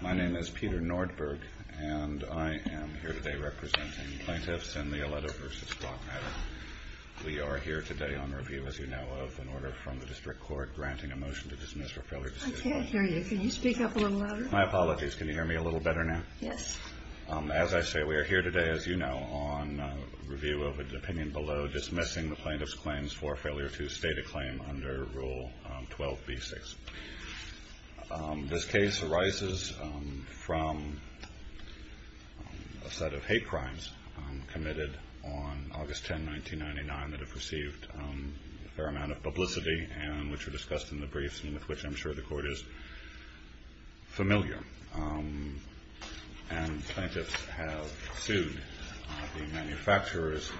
My name is Peter Nordberg and I am here today representing plaintiffs in the Ileto v. Glock matter. We are here today on review, as you know, of an order from the District Court granting a motion to dismiss for failure to state a claim. I can't hear you. Can you speak up a little louder? My apologies. Can you hear me a little better now? Yes. As I say, we are here today, as you know, on review of an opinion below dismissing the plaintiff's claims for failure to state a claim under Rule 12b-6. This case arises from a set of hate crimes committed on August 10, 1999 that have received a fair amount of publicity and which were discussed in the briefs and with which I am sure the Court is familiar. Plaintiffs have sued the manufacturers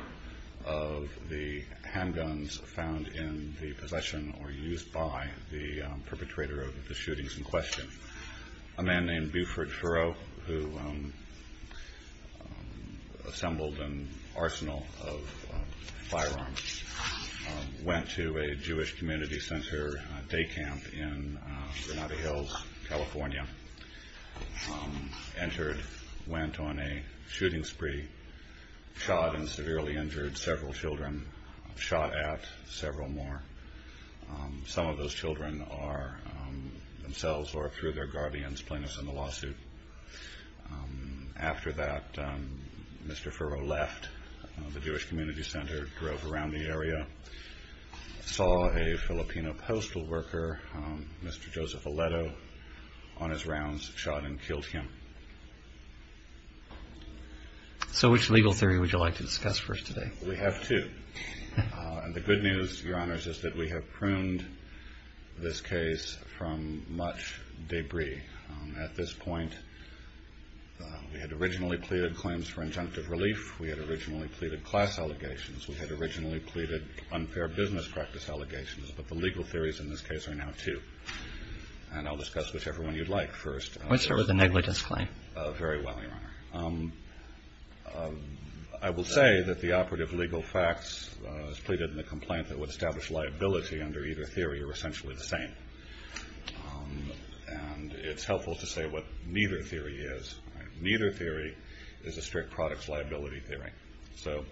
of the handguns found in the possession or used by the perpetrator of the shootings in question. A man named Buford Furrow, who assembled an arsenal of firearms, went to a Jewish community center day camp in Granada Hills, California, entered, went on a shooting spree, shot and severely injured several children, shot at several more. Some of those children are themselves or through their guardians plaintiffs in the lawsuit. After that, Mr. Furrow left the Jewish community center, drove around the area, saw a Filipino postal worker, Mr. Joseph Aleto, on his rounds, shot and killed him. So which legal theory would you like to discuss for us today? We have two. And the good news, Your Honors, is that we have pruned this case from much debris. At this point, we had originally pleaded claims for injunctive relief. We had originally pleaded class allegations. We had originally pleaded unfair business practice allegations. But the legal theories in this case are now two. And I'll discuss whichever one you'd like first. Let's start with the negligence claim. Very well, Your Honor. I will say that the operative legal facts as pleaded in the complaint that would establish liability under either theory are essentially the same. And it's helpful to say what neither theory is. Neither theory is a strict products liability theory. So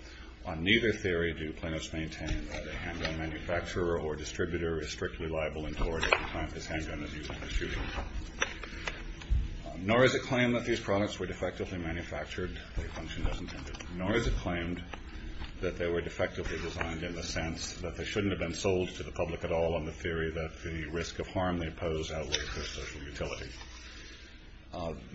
on neither theory do plaintiffs maintain that a handgun manufacturer or distributor is strictly liable in court if the client is handgun-injured in a shooting. Nor is it claimed that these products were defectively manufactured or functioned as intended. Nor is it claimed that they were defectively designed in the sense that they shouldn't have been sold to the public at all on the theory that the risk of harm they pose outweighs their social utility.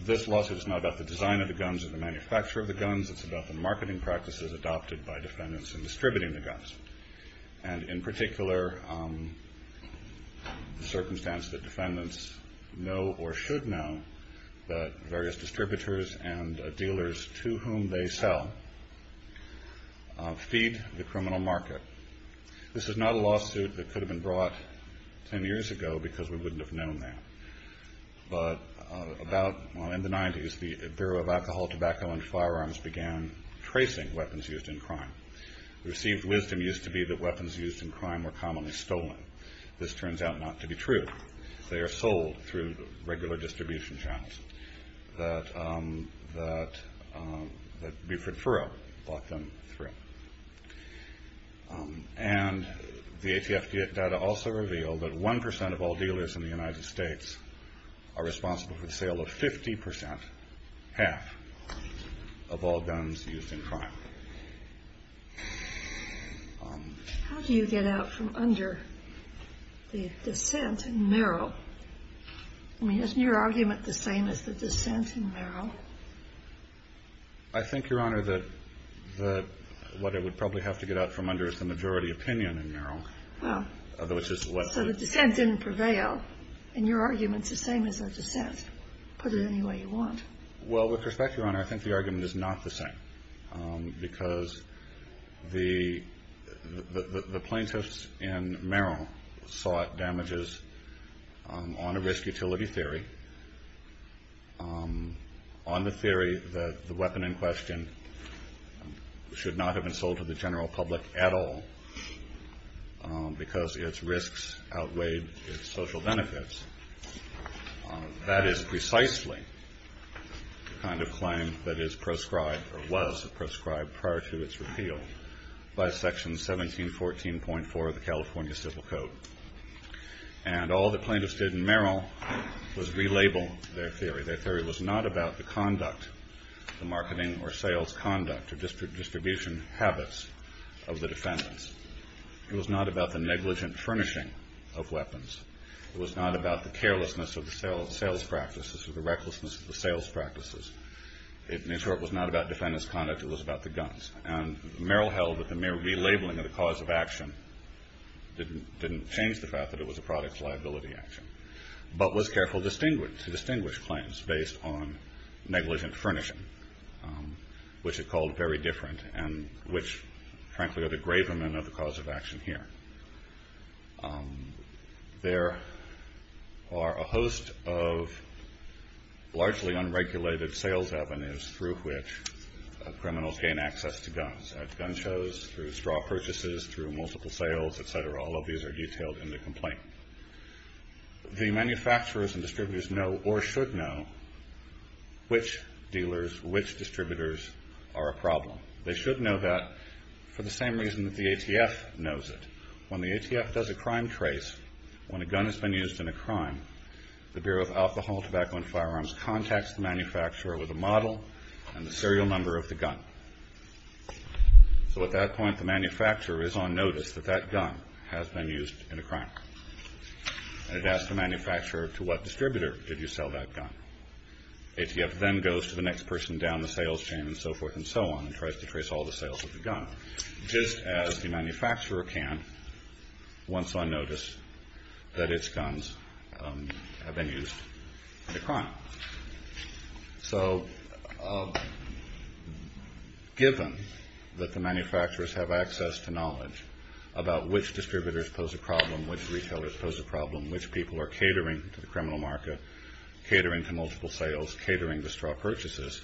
This lawsuit is not about the design of the guns or the manufacture of the guns. It's about the marketing practices adopted by defendants in distributing the guns. And in particular, the circumstance that defendants know or should know that various distributors and dealers to whom they sell feed the criminal market. This is not a lawsuit that could have been brought 10 years ago because we wouldn't have known that. But about in the 90s, the Bureau of Alcohol, Tobacco, and Firearms began tracing weapons used in crime. Received wisdom used to be that weapons used in crime were commonly stolen. This turns out not to be true. They are sold through regular distribution channels that Buford-Furrow brought them through. And the ATF data also revealed that 1% of all dealers in the United States are responsible for the sale of 50%, half, of all guns used in crime. How do you get out from under the dissent in Merrill? I mean, isn't your argument the same as the dissent in Merrill? I think, Your Honor, that what I would probably have to get out from under is the majority opinion in Merrill. So the dissent didn't prevail. And your argument's the same as the dissent, put it any way you want. Well, with respect, Your Honor, I think the argument is not the same. Because the plaintiffs in Merrill sought damages on a risk-utility theory. On the theory that the weapon in question should not have been sold to the general public at all because its risks outweighed its social benefits. That is precisely the kind of claim that is proscribed or was proscribed prior to its repeal by Section 1714.4 of the California Civil Code. And all the plaintiffs did in Merrill was relabel their theory. Their theory was not about the conduct, the marketing or sales conduct or distribution habits of the defendants. It was not about the negligent furnishing of weapons. It was not about the carelessness of the sales practices or the recklessness of the sales practices. In short, it was not about defendants' conduct. It was about the guns. And Merrill held that the mere relabeling of the cause of action didn't change the fact that it was a product's liability action. But was careful to distinguish claims based on negligent furnishing, which it called very different and which, frankly, are the gravermen of the cause of action here. There are a host of largely unregulated sales avenues through which criminals gain access to guns, at gun shows, through straw purchases, through multiple sales, et cetera. All of these are detailed in the complaint. The manufacturers and distributors know or should know which dealers, which distributors are a problem. They should know that for the same reason that the ATF knows it. When the ATF does a crime trace, when a gun has been used in a crime, the Bureau of Alcohol, Tobacco and Firearms contacts the manufacturer with a model and the serial number of the gun. So at that point, the manufacturer is on notice that that gun has been used in a crime. And it asks the manufacturer, to what distributor did you sell that gun? ATF then goes to the next person down the sales chain and so forth and so on and tries to trace all the sales of the gun, just as the manufacturer can once on notice that its guns have been used in a crime. So given that the manufacturers have access to knowledge about which distributors pose a problem, which retailers pose a problem, which people are catering to the criminal market, catering to multiple sales, catering to straw purchases,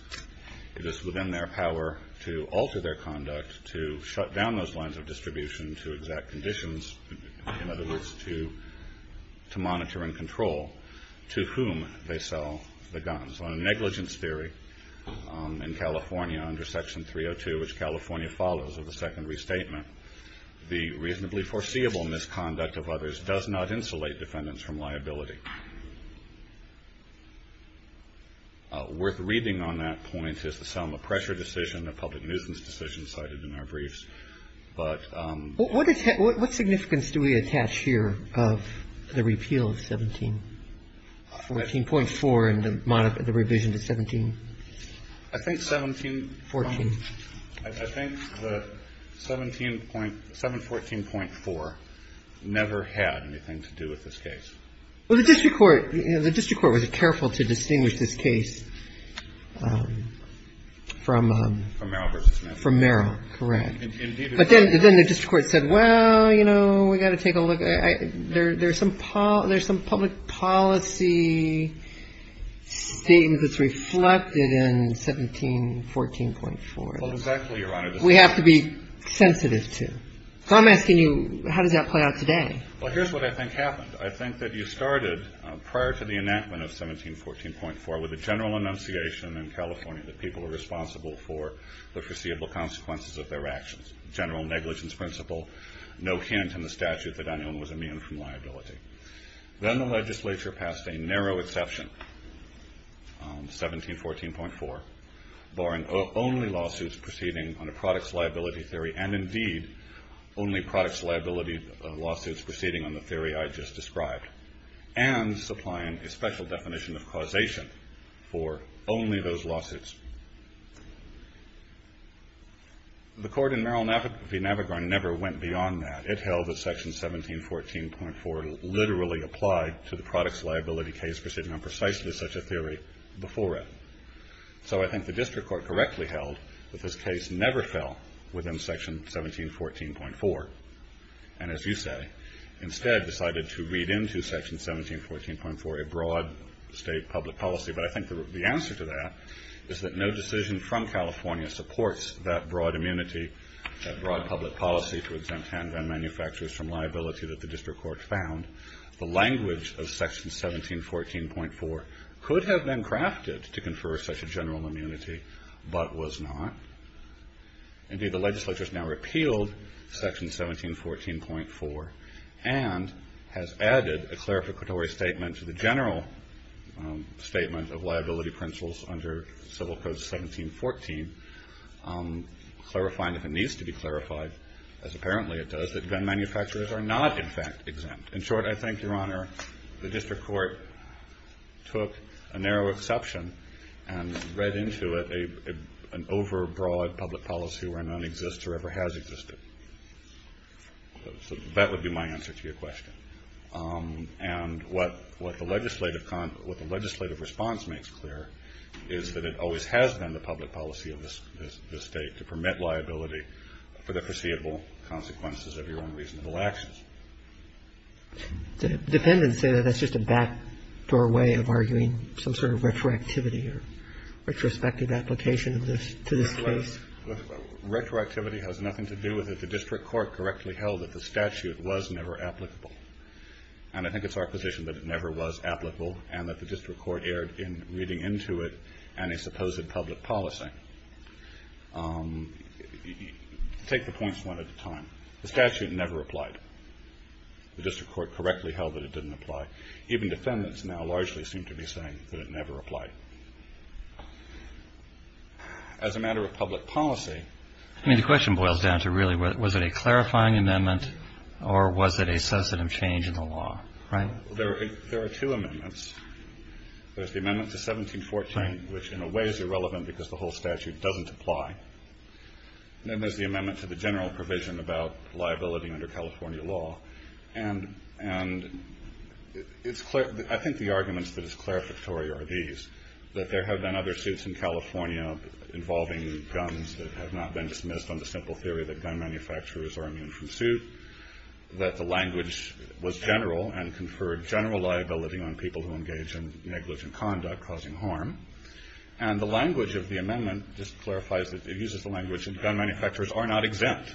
it is within their power to alter their conduct, to shut down those lines of distribution to exact conditions, in other words, to monitor and control to whom they sell the guns. On a negligence theory in California under Section 302, which California follows, of the Second Restatement, the reasonably foreseeable misconduct of others does not insulate defendants from liability. Worth reading on that point is the Selma Pressure Decision, a public nuisance decision cited in our briefs. But ---- What significance do we attach here of the repeal of 17, 14.4 and the revision to 17? I think 17 ---- 14. I think the 17. 714.4 never had anything to do with this case. Well, the district court was careful to distinguish this case from ---- From Merrill v. Smith. From Merrill. Correct. But then the district court said, well, you know, we've got to take a look. There's some public policy statement that's reflected in 17, 14.4. Well, exactly, Your Honor. We have to be sensitive to. So I'm asking you, how does that play out today? Well, here's what I think happened. I think that you started prior to the enactment of 17, 14.4 with a general enunciation in California that people are responsible for the foreseeable consequences of their actions. General negligence principle. No hint in the statute that anyone was immune from liability. Then the legislature passed a narrow exception, 17, 14.4, barring only lawsuits proceeding on a product's liability theory and indeed only product's liability lawsuits proceeding on the theory I just described and supplying a special definition of causation for only those lawsuits. The court in Merrill v. Navigron never went beyond that. It held that section 17, 14.4 literally applied to the product's liability case proceeding on precisely such a theory before it. So I think the district court correctly held that this case never fell within section 17, 14.4 and, as you say, instead decided to read into section 17, 14.4 a broad state public policy. But I think the answer to that is that no decision from California supports that broad immunity, that broad public policy to exempt handgun manufacturers from liability that the district court found. The language of section 17, 14.4 could have been crafted to confer such a general immunity but was not. Indeed, the legislature has now repealed section 17, 14.4 and has added a clarificatory statement to the general statement of liability principles under Civil Code 17, 14, clarifying if it needs to be clarified, as apparently it does, that gun manufacturers are not, in fact, exempt. In short, I think, Your Honor, the district court took a narrow exception and read into it an overbroad public policy where none exists or ever has existed. So that would be my answer to your question. And what the legislative response makes clear is that it always has been the public policy of the State to permit liability for the foreseeable consequences of your own reasonable actions. Roberts. Dependents say that that's just a backdoor way of arguing some sort of retroactivity or retrospective application to this case. Retroactivity has nothing to do with it. The district court correctly held that the statute was never applicable. And I think it's our position that it never was applicable and that the district court erred in reading into it any supposed public policy. Take the points one at a time. The statute never applied. The district court correctly held that it didn't apply. Even defendants now largely seem to be saying that it never applied. As a matter of public policy. I mean, the question boils down to really was it a clarifying amendment or was it a substantive change in the law, right? There are two amendments. There's the amendment to 1714, which in a way is irrelevant because the whole statute doesn't apply. Then there's the amendment to the general provision about liability under California law. And I think the arguments that is clarificatory are these. That there have been other suits in California involving guns that have not been dismissed on the simple theory that gun manufacturers are immune from suit. That the language was general and conferred general liability on people who engage in negligent conduct causing harm. And the language of the amendment just clarifies that it uses the language that gun manufacturers are not exempt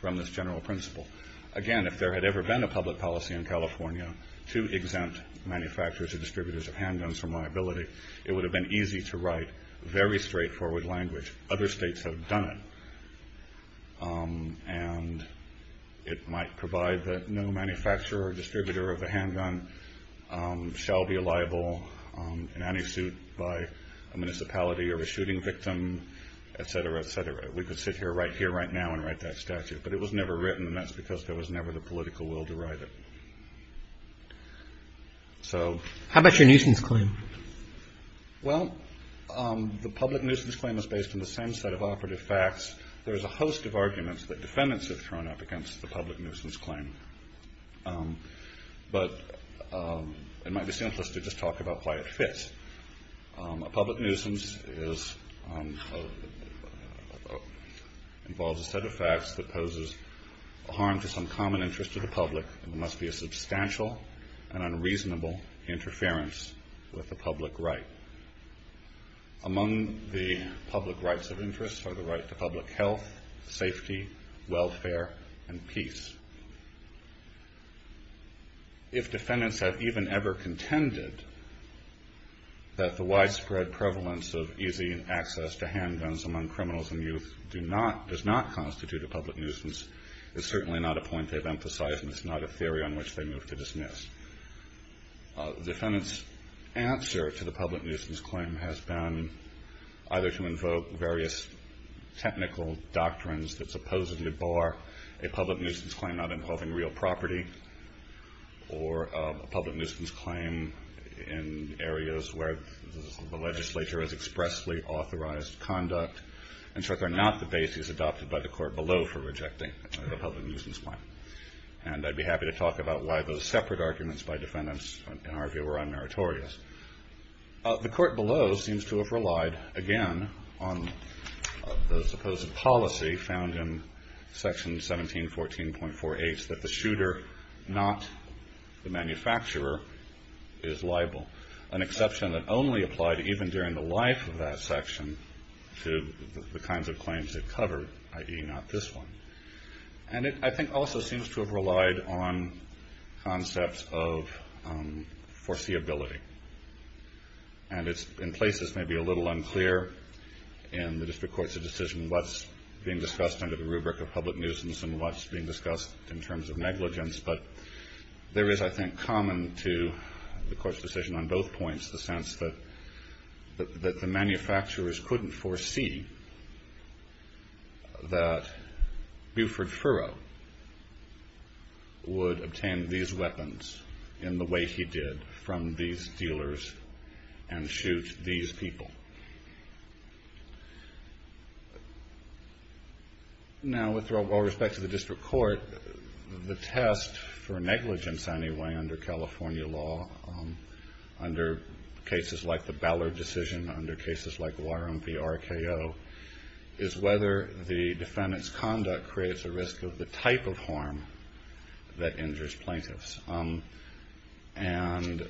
from this general principle. Again, if there had ever been a public policy in California to exempt manufacturers or distributors of handguns from liability, it would have been easy to write very straightforward language. Other states have done it. And it might provide that no manufacturer or distributor of a handgun shall be liable in any suit by a municipality or a shooting victim, et cetera, et cetera. We could sit here right here right now and write that statute. But it was never written, and that's because there was never the political will to write it. So. How about your nuisance claim? Well, the public nuisance claim is based on the same set of operative facts. There is a host of arguments that defendants have thrown up against the public nuisance claim. But it might be simplest to just talk about why it fits. A public nuisance involves a set of facts that poses harm to some common interest of the public. It must be a substantial and unreasonable interference with the public right. Among the public rights of interest are the right to public health, safety, welfare, and peace. If defendants have even ever contended that the widespread prevalence of easy access to handguns among criminals and youth does not constitute a public nuisance, it's certainly not a point they've emphasized, and it's not a theory on which they move to dismiss. Defendants' answer to the public nuisance claim has been either to invoke various technical doctrines that supposedly bar a public nuisance claim not involving real property or a public nuisance claim in areas where the legislature has expressly authorized conduct. In short, they're not the basis adopted by the court below for rejecting the public nuisance claim. And I'd be happy to talk about why those separate arguments by defendants, in our view, were unmeritorious. The court below seems to have relied, again, on the supposed policy found in Section 1714.48 that the shooter, not the manufacturer, is liable, an exception that only applied even during the life of that section to the kinds of claims it covered, i.e. not this one. And it, I think, also seems to have relied on concepts of foreseeability. And it's, in places, maybe a little unclear in the district court's decision what's being discussed under the rubric of public nuisance and what's being discussed in terms of negligence, but there is, I think, common to the court's decision on both points, the sense that the manufacturers couldn't foresee that Buford Furrow would obtain these weapons in the way he did from these dealers and shoot these people. Now, with all respect to the district court, the test for negligence, anyway, under California law, under cases like the Ballard decision, under cases like Warren v. RKO, is whether the defendant's conduct creates a risk of the type of harm that injures plaintiffs. And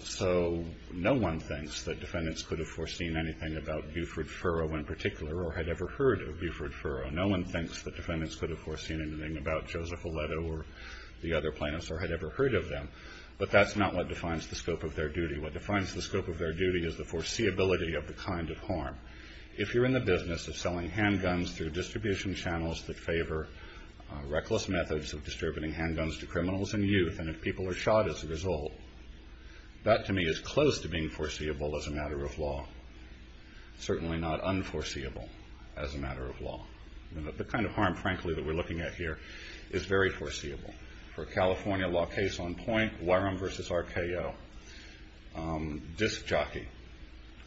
so no one thinks that defendants could have foreseen anything about Buford Furrow in particular or had ever heard of Buford Furrow. No one thinks that defendants could have foreseen anything about Joseph Aledo or the other plaintiffs or had ever heard of them, but that's not what defines the scope of their duty. What defines the scope of their duty is the foreseeability of the kind of harm. If you're in the business of selling handguns through distribution channels that favor reckless methods of distributing handguns to criminals and youth, and if people are shot as a result, that, to me, is close to being foreseeable as a matter of law, the kind of harm, frankly, that we're looking at here is very foreseeable. For a California law case on point, Warren v. RKO, disc jockey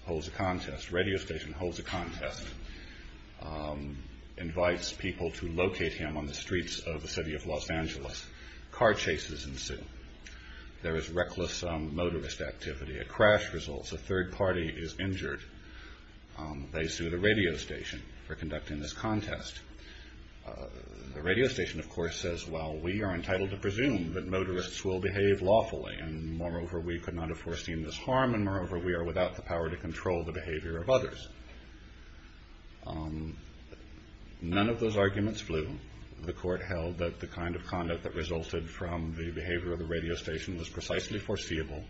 holds a contest, radio station holds a contest, invites people to locate him on the streets of the city of Los Angeles. Car chases ensue. There is reckless motorist activity. A crash results. A third party is injured. They sue the radio station for conducting this contest. The radio station, of course, says, well, we are entitled to presume that motorists will behave lawfully, and moreover, we could not have foreseen this harm, and moreover, we are without the power to control the behavior of others. None of those arguments flew. The court held that the kind of conduct that resulted from the behavior of the radio station was precisely foreseeable,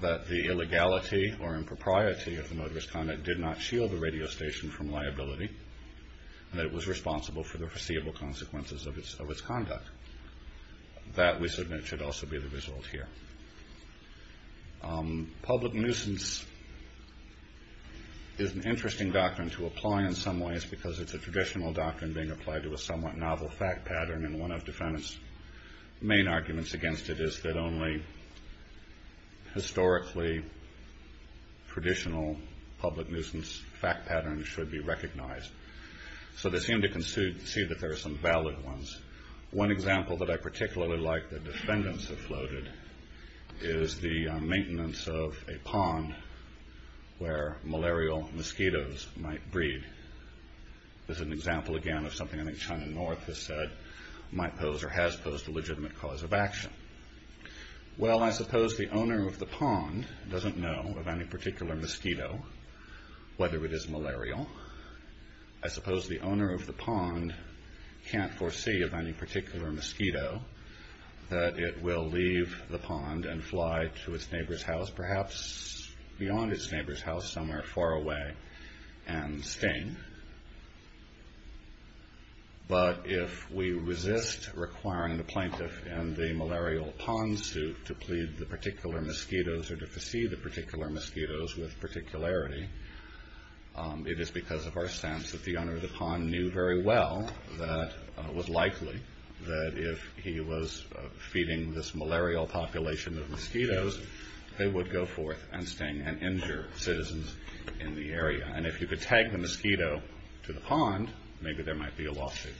that the illegality or impropriety of the motorist conduct did not shield the radio station from liability, and that it was responsible for the foreseeable consequences of its conduct. That, we submit, should also be the result here. Public nuisance is an interesting doctrine to apply in some ways because it's a traditional doctrine being applied to a somewhat novel fact pattern, and one of defendants' main arguments against it is that only historically traditional public nuisance fact patterns should be recognized. So they seem to concede that there are some valid ones. One example that I particularly like that defendants have floated is the maintenance of a pond where malarial mosquitoes might breed. This is an example, again, of something I think China North has said might pose or has posed a legitimate cause of action. Well, I suppose the owner of the pond doesn't know of any particular mosquito, whether it is malarial. I suppose the owner of the pond can't foresee of any particular mosquito that it will leave the pond and fly to its neighbor's house, perhaps beyond its neighbor's house, somewhere far away, and sting. But if we resist requiring the plaintiff in the malarial pond suit to plead the particular mosquitoes or to foresee the particular mosquitoes with particularity, it is because of our sense that the owner of the pond knew very well that it was likely that if he was feeding this malarial population of mosquitoes, they would go forth and sting and injure citizens in the area. And if you could tag the mosquito to the pond, maybe there might be a lawsuit.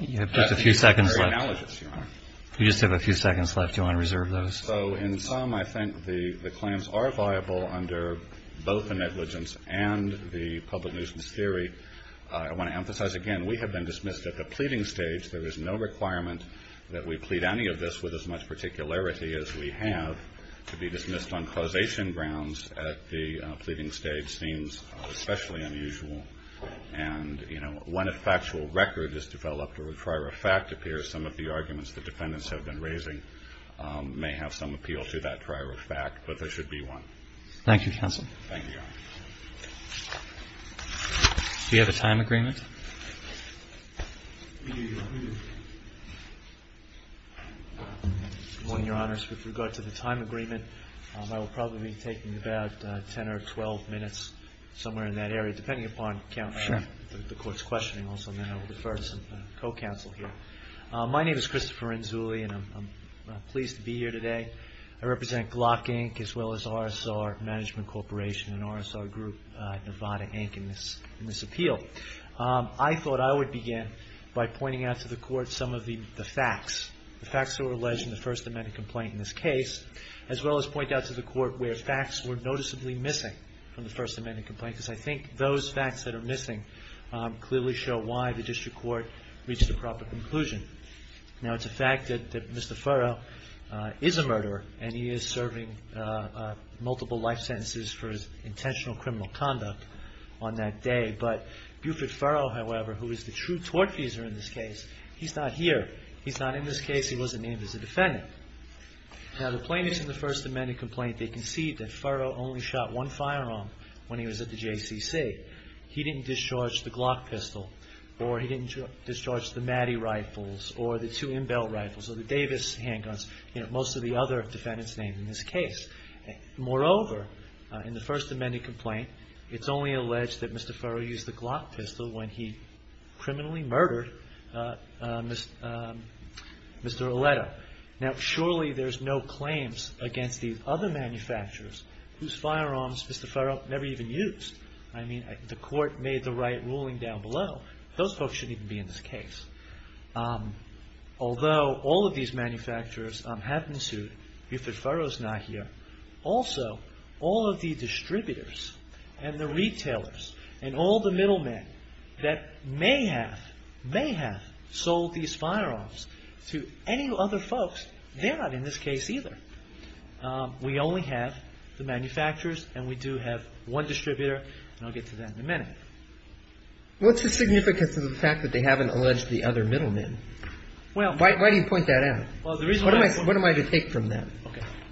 You have just a few seconds left. You just have a few seconds left. Do you want to reserve those? So in sum, I think the claims are viable under both the negligence and the public nuisance theory. I want to emphasize, again, we have been dismissed at the pleading stage. There is no requirement that we plead any of this with as much particularity as we have. To be dismissed on causation grounds at the pleading stage seems especially unusual. And, you know, when a factual record is developed or a prior fact appears, some of the arguments the defendants have been raising may have some appeal to that prior fact, but there should be one. Thank you, counsel. Thank you, Your Honor. Do you have a time agreement? Good morning, Your Honors. With regard to the time agreement, I will probably be taking about 10 or 12 minutes somewhere in that area, depending upon the court's questioning also, and then I will defer to some co-counsel here. My name is Christopher Inzulli, and I'm pleased to be here today. I represent Glock, Inc., as well as RSR Management Corporation and RSR Group, Nevada, Inc., in this appeal. I thought I would begin by pointing out to the court some of the facts, the facts that were alleged in the First Amendment complaint in this case, as well as point out to the court where facts were noticeably missing from the First Amendment complaint, because I think those facts that are missing clearly show why the district court reached a proper conclusion. Now, it's a fact that Mr. Furrow is a murderer, and he is serving multiple life sentences for his intentional criminal conduct on that day, but Buford Furrow, however, who is the true tortfeasor in this case, he's not here. He's not in this case. He wasn't named as a defendant. Now, the plaintiffs in the First Amendment complaint, they concede that Furrow only shot one firearm when he was at the JCC. He didn't discharge the Glock pistol, or he didn't discharge the Maddy rifles, or the two Imbel rifles, or the Davis handguns, you know, most of the other defendants named in this case. Moreover, in the First Amendment complaint, it's only alleged that Mr. Furrow used the Glock pistol when he criminally murdered Mr. Oleto. Now, surely there's no claims against the other manufacturers whose firearms Mr. Furrow never even used. I mean, the court made the right ruling down below. Those folks shouldn't even be in this case. Although all of these manufacturers have been sued, Buford Furrow is not here. Also, all of the distributors and the retailers and all the middlemen that may have, may have sold these firearms to any other folks, they're not in this case either. We only have the manufacturers, and we do have one distributor, and I'll get to that in a minute. What's the significance of the fact that they haven't alleged the other middlemen? Why do you point that out? What am I to take from that?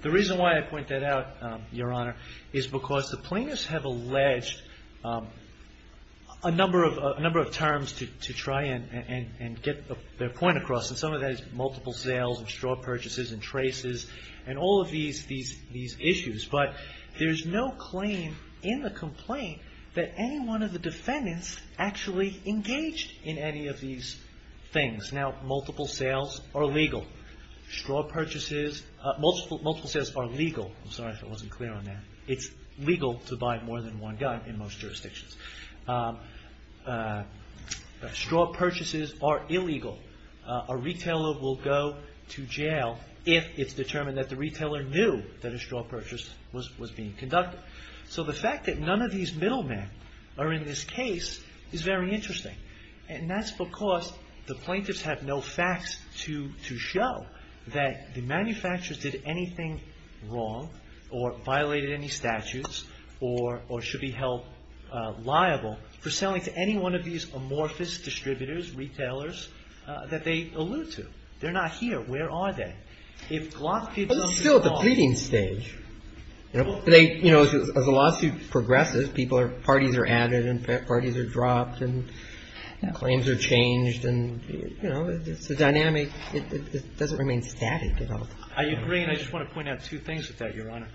The reason why I point that out, Your Honor, is because the plaintiffs have alleged a number of terms to try and get their point across. And some of that is multiple sales and straw purchases and traces and all of these issues. But there's no claim in the complaint that any one of the defendants actually engaged in any of these things. Now, multiple sales are legal. Straw purchases, multiple sales are legal. I'm sorry if I wasn't clear on that. It's legal to buy more than one gun in most jurisdictions. Straw purchases are illegal. A retailer will go to jail if it's determined that the retailer knew that a straw purchase was being conducted. So the fact that none of these middlemen are in this case is very interesting. And that's because the plaintiffs have no facts to show that the manufacturers did anything wrong or violated any statutes or should be held liable for selling to any one of these amorphous distributors, retailers, that they allude to. They're not here. Where are they? If gloss people don't know. It's still at the pleading stage. As the lawsuit progresses, parties are added and parties are dropped and claims are changed. It's a dynamic. It doesn't remain static at all. I agree. And I just want to point out two things with that, Your Honor.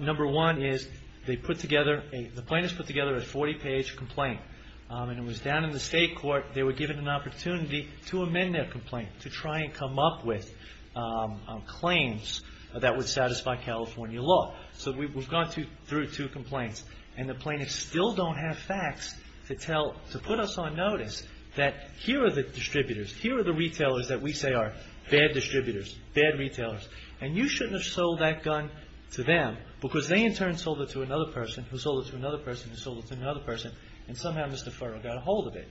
Number one is they put together, the plaintiffs put together a 40-page complaint. And it was down in the state court. They were given an opportunity to amend their complaint, to try and come up with claims that would satisfy California law. So we've gone through two complaints. And the plaintiffs still don't have facts to tell, to put us on notice that here are the distributors, here are the retailers that we say are bad distributors, bad retailers. And you shouldn't have sold that gun to them because they in turn sold it to another person who sold it to another person and somehow Mr. Furrow got a hold of it.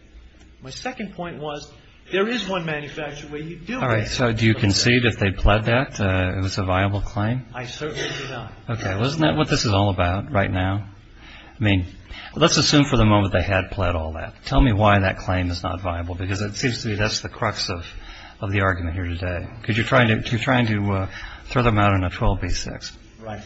My second point was there is one manufacturer where you do get a hold of it. All right. So do you concede if they pled that it was a viable claim? I certainly do not. Okay. Isn't that what this is all about right now? I mean, let's assume for the moment they had pled all that. Tell me why that claim is not viable because it seems to me that's the crux of the argument here today because you're trying to throw them out on a 12B6. Right.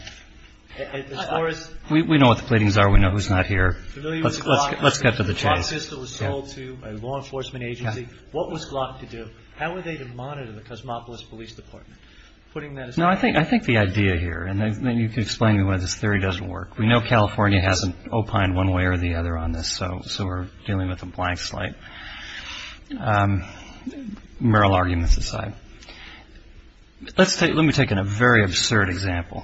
We know what the pleadings are. We know who's not here. Let's get to the chase. The Glock system was sold to a law enforcement agency. What was Glock to do? How were they to monitor the Cosmopolis Police Department? No, I think the idea here, and then you can explain to me why this theory doesn't work. We know California hasn't opined one way or the other on this, so we're dealing with a blank slate. Merrill arguments aside. Let me take a very absurd example.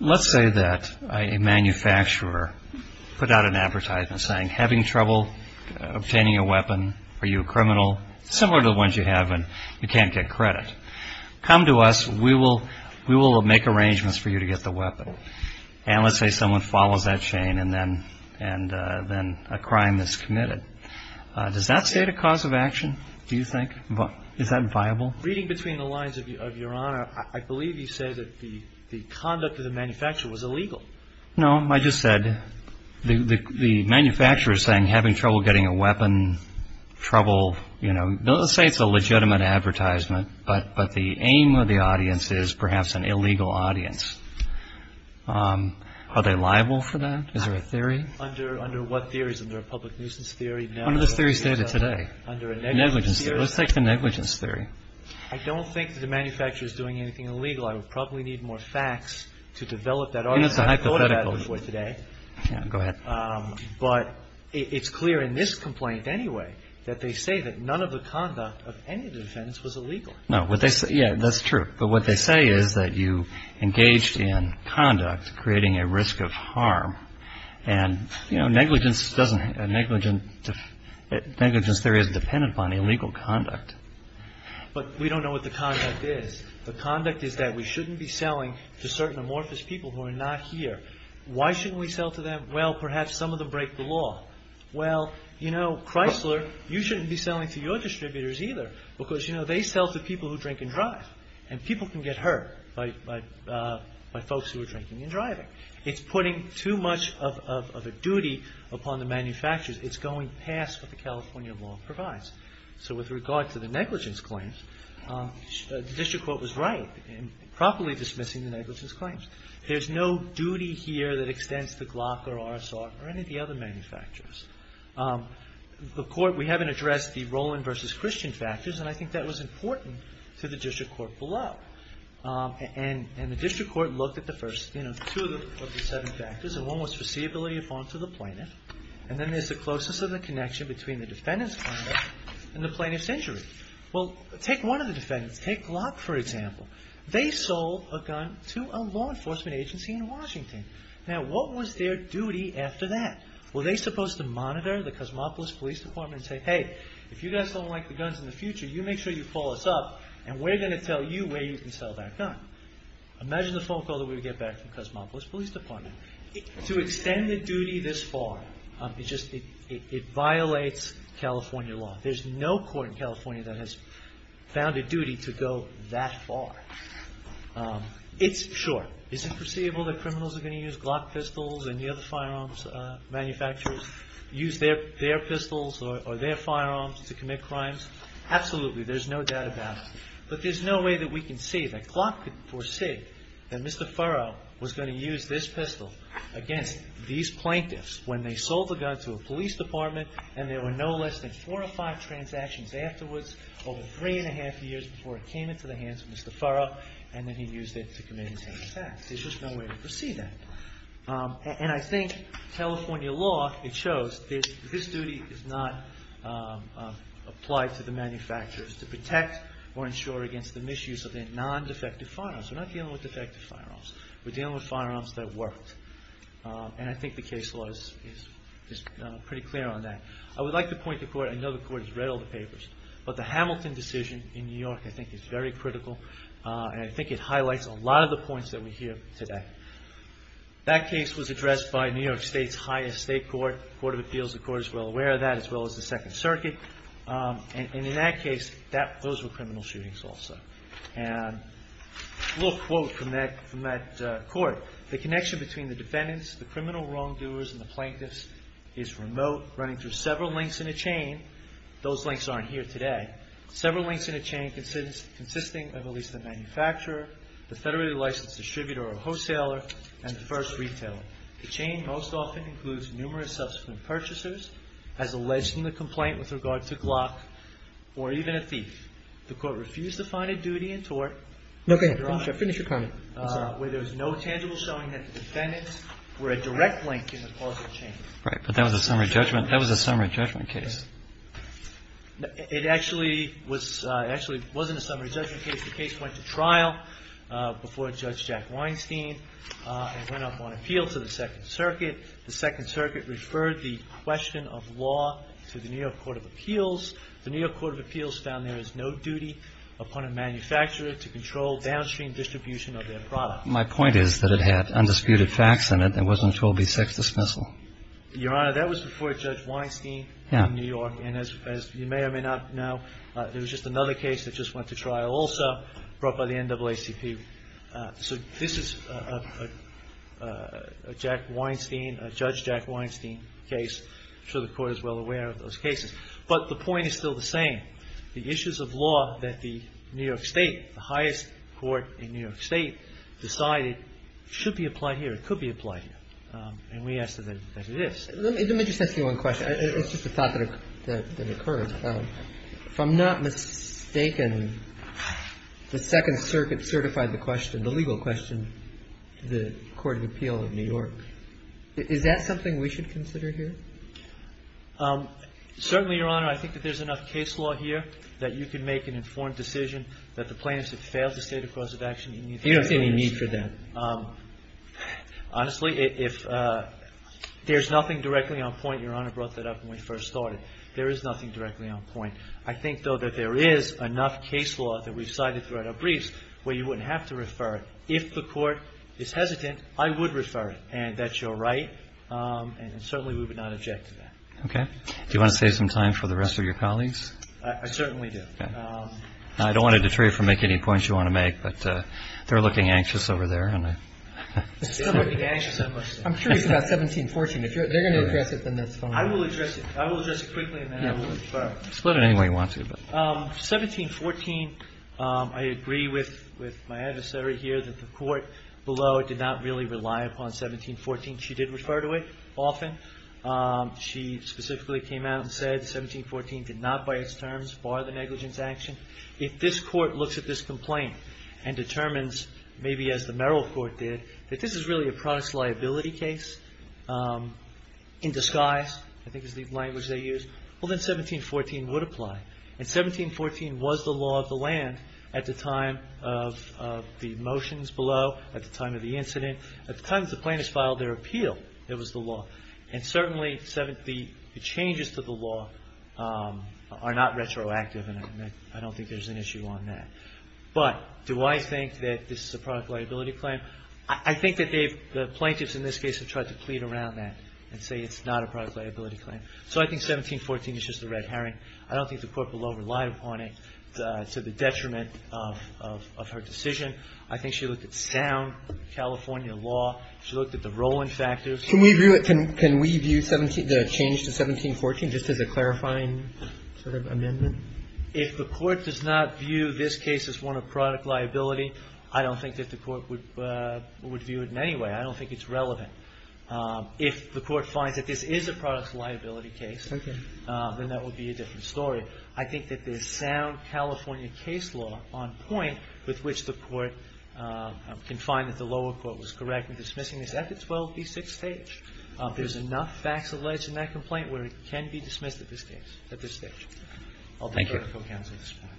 Let's say that a manufacturer put out an advertisement saying, having trouble obtaining a weapon, are you a criminal? Similar to the ones you have in you can't get credit. Come to us. We will make arrangements for you to get the weapon. And let's say someone follows that chain and then a crime is committed. Does that state a cause of action, do you think? Is that viable? Reading between the lines of Your Honor, I believe you say that the conduct of the manufacturer was illegal. No, I just said the manufacturer is saying having trouble getting a weapon, trouble, you know. Let's say it's a legitimate advertisement, but the aim of the audience is perhaps an illegal audience. Are they liable for that? Is there a theory? Under what theories? Under a public nuisance theory? None of those theories are stated today. Under a negligence theory? Under a negligence theory. Let's take the negligence theory. I don't think the manufacturer is doing anything illegal. I would probably need more facts to develop that argument. That's a hypothetical. I've thought about it before today. Yeah, go ahead. But it's clear in this complaint anyway that they say that none of the conduct of any of the defendants was illegal. No. What they say, yeah, that's true. But what they say is that you engaged in conduct creating a risk of harm. And, you know, negligence doesn't, negligence theory is dependent upon illegal conduct. But we don't know what the conduct is. The conduct is that we shouldn't be selling to certain amorphous people who are not here. Why shouldn't we sell to them? Well, perhaps some of them break the law. Well, you know, Chrysler, you shouldn't be selling to your distributors either because, you know, they sell to people who drink and drive, and people can get hurt by folks who are drinking and driving. It's putting too much of a duty upon the manufacturers. It's going past what the California law provides. So with regard to the negligence claims, the district court was right in properly dismissing the negligence claims. There's no duty here that extends to Glock or RSR or any of the other manufacturers. The court, we haven't addressed the Roland versus Christian factors, and I think that was important to the district court below. And the district court looked at the first two of the seven factors, and one was foreseeability of harm to the plaintiff, and then there's the closeness of the connection between the defendant's conduct and the plaintiff's injury. Well, take one of the defendants. Take Glock, for example. They sold a gun to a law enforcement agency in Washington. Now, what was their duty after that? Were they supposed to monitor the Cosmopolis Police Department and say, hey, if you guys don't like the guns in the future, you make sure you call us up, and we're going to tell you where you can sell that gun. Imagine the phone call that we would get back from Cosmopolis Police Department. To extend the duty this far, it just violates California law. There's no court in California that has found a duty to go that far. It's short. Is it foreseeable that criminals are going to use Glock pistols and the other firearms manufacturers use their pistols or their firearms to commit crimes? Absolutely. There's no doubt about it. But there's no way that we can see that Glock could foresee that Mr. Furrow was going to use this pistol against these plaintiffs when they sold the gun to a police department and there were no less than four or five transactions afterwards, over three and a half years before it came into the hands of Mr. Furrow, and then he used it to commit an attack. There's just no way to foresee that. And I think California law, it shows this duty is not applied to the manufacturers to protect or ensure against the misuse of their non-defective firearms. We're not dealing with defective firearms. We're dealing with firearms that worked. And I think the case law is pretty clear on that. I would like to point the court, I know the court has read all the papers, but the Hamilton decision in New York I think is very critical and I think it highlights a lot of the points that we hear today. That case was addressed by New York State's highest state court, the Court of Appeals, the court is well aware of that, as well as the Second Circuit. And in that case, those were criminal shootings also. And a little quote from that court, the connection between the defendants, the criminal wrongdoers, and the plaintiffs is remote, running through several links in a chain. Those links aren't here today. Several links in a chain consisting of at least the manufacturer, the federally licensed distributor or wholesaler, and the first retailer. The chain most often includes numerous subsequent purchasers, as alleged in the complaint with regard to Glock, or even a thief. The court refused to find a duty in tort. Roberts. No, go ahead. Finish your comment. I'm sorry. Where there is no tangible showing that the defendants were a direct link in the causal chain. Right. But that was a summary judgment. That was a summary judgment case. It actually was, it actually wasn't a summary judgment case. The case went to trial before Judge Jack Weinstein. It went up on appeal to the Second Circuit. The Second Circuit referred the question of law to the New York Court of Appeals. The New York Court of Appeals found there is no duty upon a manufacturer to control downstream distribution of their product. My point is that it had undisputed facts in it. It wasn't a 12B6 dismissal. Your Honor, that was before Judge Weinstein. It was in New York, and as you may or may not know, there was just another case that just went to trial also brought by the NAACP. So this is a Jack Weinstein, a Judge Jack Weinstein case. I'm sure the Court is well aware of those cases. But the point is still the same. The issues of law that the New York State, the highest court in New York State, decided should be applied here, could be applied here. And we ask that it is. Let me just ask you one question. It's just a thought that occurred. If I'm not mistaken, the Second Circuit certified the question, the legal question, to the Court of Appeal of New York. Is that something we should consider here? Certainly, Your Honor. I think that there's enough case law here that you can make an informed decision that the plaintiffs have failed to state a cause of action. You don't see any need for that. Honestly, if there's nothing directly on point, and Your Honor brought that up when we first started, there is nothing directly on point. I think, though, that there is enough case law that we've cited throughout our briefs where you wouldn't have to refer it. If the Court is hesitant, I would refer it, and that's your right. And certainly we would not object to that. Okay. Do you want to save some time for the rest of your colleagues? I certainly do. Okay. I don't want to detray you from making any points you want to make, but they're looking anxious over there. I'm sure it's about 1714. If they're going to address it, then that's fine. I will address it. I will address it quickly, and then I will refer. Split it any way you want to. 1714, I agree with my adversary here that the Court below did not really rely upon 1714. She did refer to it often. She specifically came out and said 1714 did not, by its terms, bar the negligence action. If this Court looks at this complaint and determines, maybe as the Merrill Court did, that this is really a product liability case in disguise, I think is the language they used, well, then 1714 would apply. And 1714 was the law of the land at the time of the motions below, at the time of the incident. At the time that the plaintiffs filed their appeal, it was the law. And certainly the changes to the law are not retroactive, and I don't think there's an issue on that. But do I think that this is a product liability claim? I think that the plaintiffs in this case have tried to plead around that and say it's not a product liability claim. So I think 1714 is just a red herring. I don't think the Court below relied upon it to the detriment of her decision. I think she looked at sound California law. She looked at the rolling factors. Can we view the change to 1714 just as a clarifying sort of amendment? If the Court does not view this case as one of product liability, I don't think that the Court would view it in any way. I don't think it's relevant. If the Court finds that this is a product liability case, then that would be a different story. I think that there's sound California case law on point with which the Court can find that the lower court was correct in dismissing this at the 12b6 stage. There's enough facts alleged in that complaint where it can be dismissed at this stage. Thank you. I'll defer to co-counsel at this point.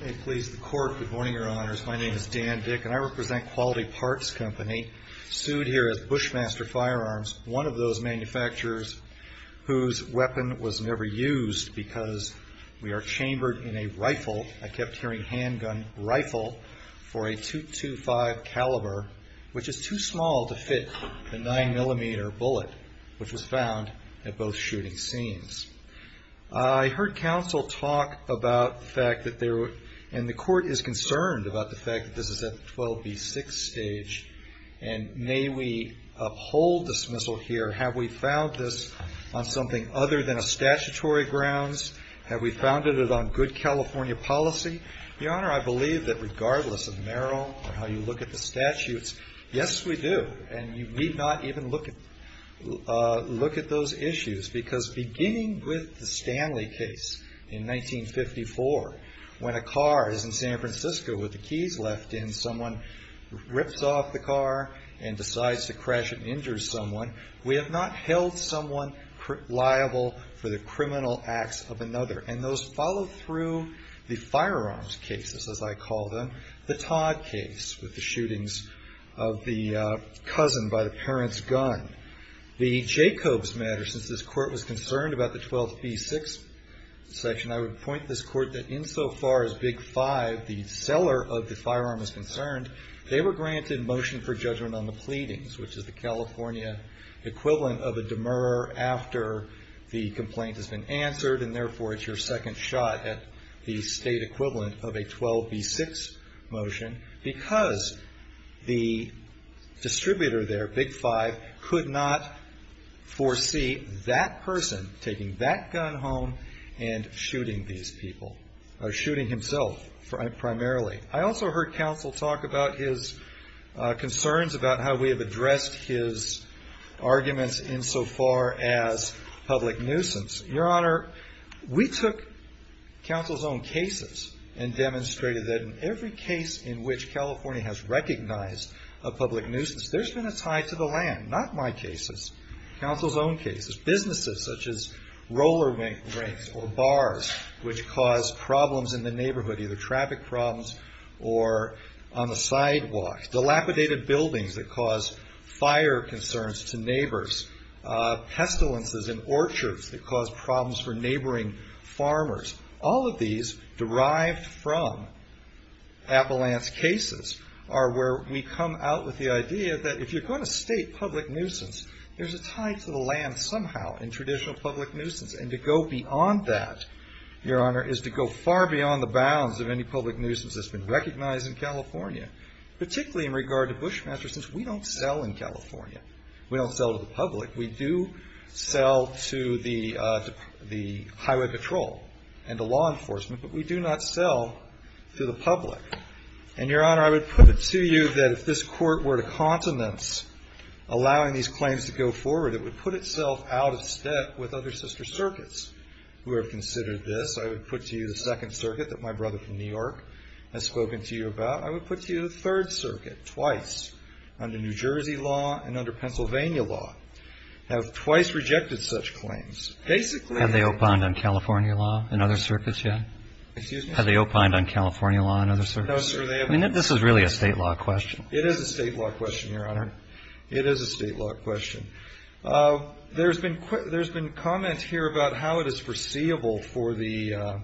May it please the Court. Good morning, Your Honors. My name is Dan Dick, and I represent Quality Parts Company, sued here at Bushmaster Firearms, one of those manufacturers whose weapon was never used because we are chambered in a rifle. I kept hearing handgun rifle for a .225 caliber, which is too small to fit the 9mm bullet, which was found at both shooting scenes. I heard counsel talk about the fact that there were, and the Court is concerned about the fact that this is at the 12b6 stage, and may we uphold dismissal here. Have we found this on something other than a statutory grounds? Have we found it on good California policy? Your Honor, I believe that regardless of Merrill and how you look at the statutes, yes, we do. And you need not even look at those issues because beginning with the Stanley case in 1954, when a car is in San Francisco with the keys left in, someone rips off the car and decides to crash and injure someone. We have not held someone liable for the criminal acts of another. And those follow through the firearms cases, as I call them. The Todd case with the shootings of the cousin by the parent's gun. The Jacobs matter, since this Court was concerned about the 12b6 section, I would point this Court that insofar as Big Five, the seller of the firearm, is concerned, they were granted motion for judgment on the pleadings, which is the California equivalent of a demurrer after the complaint has been answered, and therefore it's your second shot at the state equivalent of a 12b6 motion, because the distributor there, Big Five, could not foresee that person taking that gun home and shooting these people, or shooting himself primarily. I also heard counsel talk about his concerns about how we have addressed his arguments insofar as public nuisance. Your Honor, we took counsel's own cases and demonstrated that in every case in which California has recognized a public nuisance, there's been a tie to the land. Not my cases. Counsel's own cases. Businesses, such as roller rinks or bars, which cause problems in the neighborhood, either traffic problems or on the sidewalks. Dilapidated buildings that cause fire concerns to neighbors. Pestilences in orchards that cause problems for neighboring farmers. All of these, derived from Avalanche cases, are where we come out with the idea that if you're going to state public nuisance, there's a tie to the land somehow in traditional public nuisance. And to go beyond that, Your Honor, is to go far beyond the bounds of any public nuisance that's been recognized in California, particularly in regard to Bushmaster, since we don't sell in California. We don't sell to the public. We do sell to the highway patrol and to law enforcement, but we do not sell to the public. And, Your Honor, I would put it to you that if this Court were to continence allowing these claims to go forward, it would put itself out of step with other sister circuits who have considered this. I would put to you the Second Circuit that my brother from New York has spoken to you about. I would put to you the Third Circuit twice, under New Jersey law and under Pennsylvania law, have twice rejected such claims. Basically they have. Have they opined on California law and other circuits yet? Excuse me? Have they opined on California law and other circuits? No, sir. I mean, this is really a state law question. It is a state law question, Your Honor. It is a state law question. There's been comment here about how it is foreseeable for the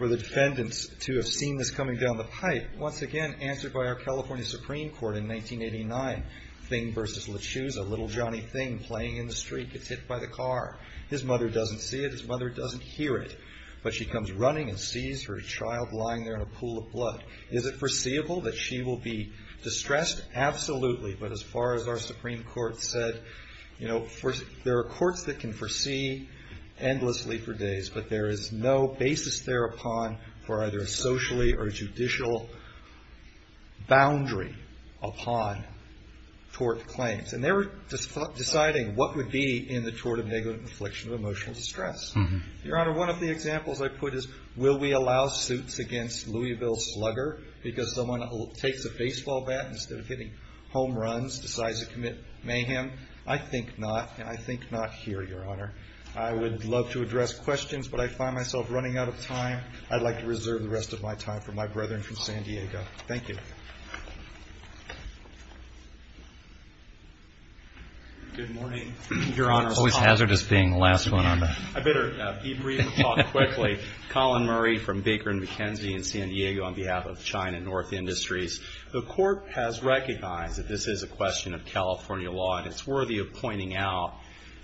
defendants to have seen this coming down the pipe. Once again, answered by our California Supreme Court in 1989, Thing v. Lachuse, a little Johnny Thing playing in the street gets hit by the car. His mother doesn't see it. His mother doesn't hear it. But she comes running and sees her child lying there in a pool of blood. Is it foreseeable that she will be distressed? Absolutely. But as far as our Supreme Court said, you know, there are courts that can foresee endlessly for days, but there is no basis thereupon for either a socially or judicial boundary upon tort claims. And they were deciding what would be in the tort of negligent infliction of emotional distress. Your Honor, one of the examples I put is will we allow suits against Louisville Slugger because someone takes a baseball bat instead of hitting home runs, decides to commit mayhem? I think not, and I think not here, Your Honor. I would love to address questions, but I find myself running out of time. I'd like to reserve the rest of my time for my brethren from San Diego. Thank you. Good morning, Your Honor. Always hazardous being the last one on. I better keep reading the talk quickly. Colin Murray from Baker and McKenzie in San Diego on behalf of China North Industries. The Court has recognized that this is a question of California law, and it's worthy of pointing out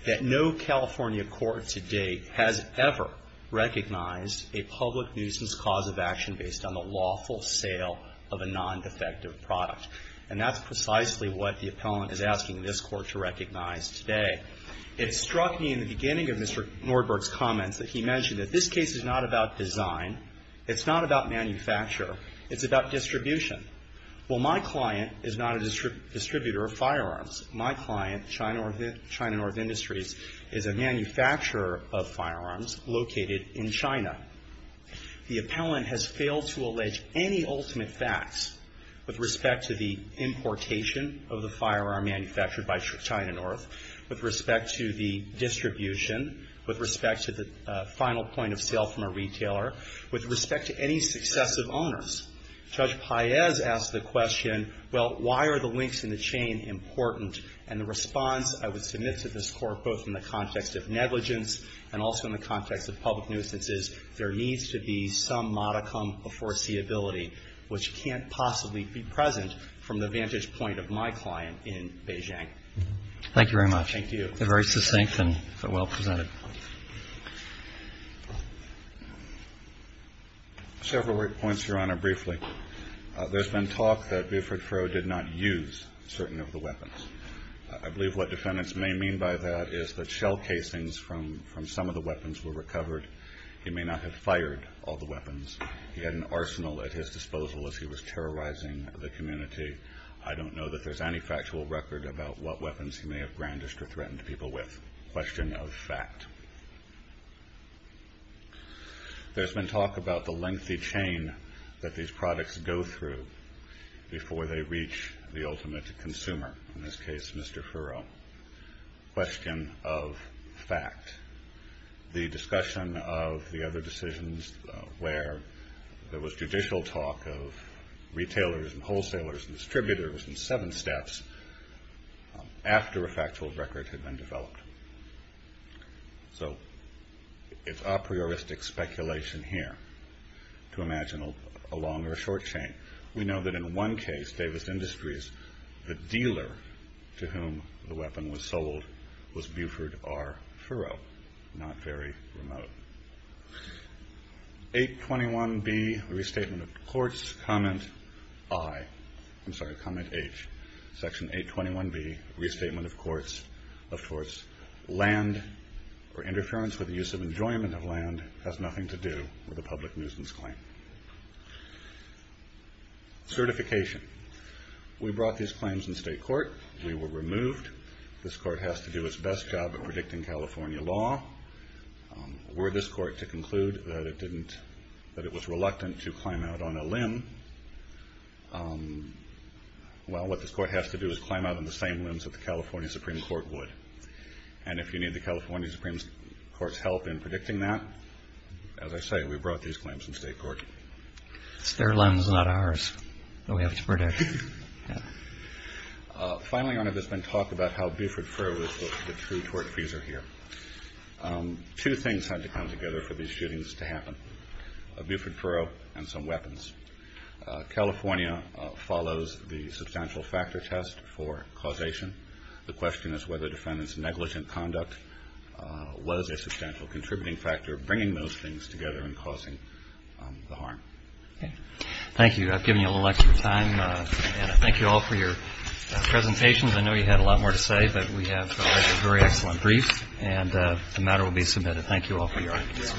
that no California court to date has ever recognized a public nuisance cause of action based on the lawful sale of a non-defective product. And that's precisely what the appellant is asking this Court to recognize today. It struck me in the beginning of Mr. Nordberg's comments that he mentioned that this case is not about design. It's not about manufacture. It's about distribution. Well, my client is not a distributor of firearms. My client, China North Industries, is a manufacturer of firearms located in China. The appellant has failed to allege any ultimate facts with respect to the importation of the firearm manufactured by China North, with respect to the final point of sale from a retailer, with respect to any successive owners. Judge Paez asked the question, well, why are the links in the chain important? And the response I would submit to this Court, both in the context of negligence and also in the context of public nuisances, there needs to be some modicum of foreseeability, which can't possibly be present from the vantage point of my client in Beijing. Thank you very much. Thank you. Very succinct and well presented. Several points, Your Honor, briefly. There's been talk that Buford Froh did not use certain of the weapons. I believe what defendants may mean by that is that shell casings from some of the weapons were recovered. He may not have fired all the weapons. He had an arsenal at his disposal as he was terrorizing the community. I don't know that there's any factual record about what weapons he may have brandished or threatened people with. Question of fact. There's been talk about the lengthy chain that these products go through before they reach the ultimate consumer, in this case Mr. Furrow. Question of fact. The discussion of the other decisions where there was judicial talk of retailers and wholesalers and distributors and seven steps after a factual record had been developed. So it's a prioristic speculation here to imagine a longer or short chain. We know that in one case, Davis Industries, the dealer to whom the weapon was sold was Buford R. Furrow, not very remote. 821B, Restatement of Courts, Comment I. I'm sorry, Comment H. Section 821B, Restatement of Courts. Land or interference with the use of enjoyment of land has nothing to do with a public nuisance claim. Certification. We brought these claims in state court. We were removed. This court has to do its best job at predicting California law. Were this court to conclude that it was reluctant to climb out on a limb, well, what this court has to do is climb out on the same limbs that the California Supreme Court would. And if you need the California Supreme Court's help in predicting that, as I say, we brought these claims in state court. It's their limbs, not ours, that we have to predict. Finally, Your Honor, there's been talk about how Buford Furrow is the true tort freezer here. Two things had to come together for these shootings to happen, Buford Furrow and some weapons. California follows the substantial factor test for causation. The question is whether defendant's negligent conduct was a substantial contributing factor bringing those things together and causing the harm. Thank you. I've given you a little extra time. And I thank you all for your presentations. I know you had a lot more to say, but we have a very excellent brief, and the matter will be submitted. Thank you all for your audience.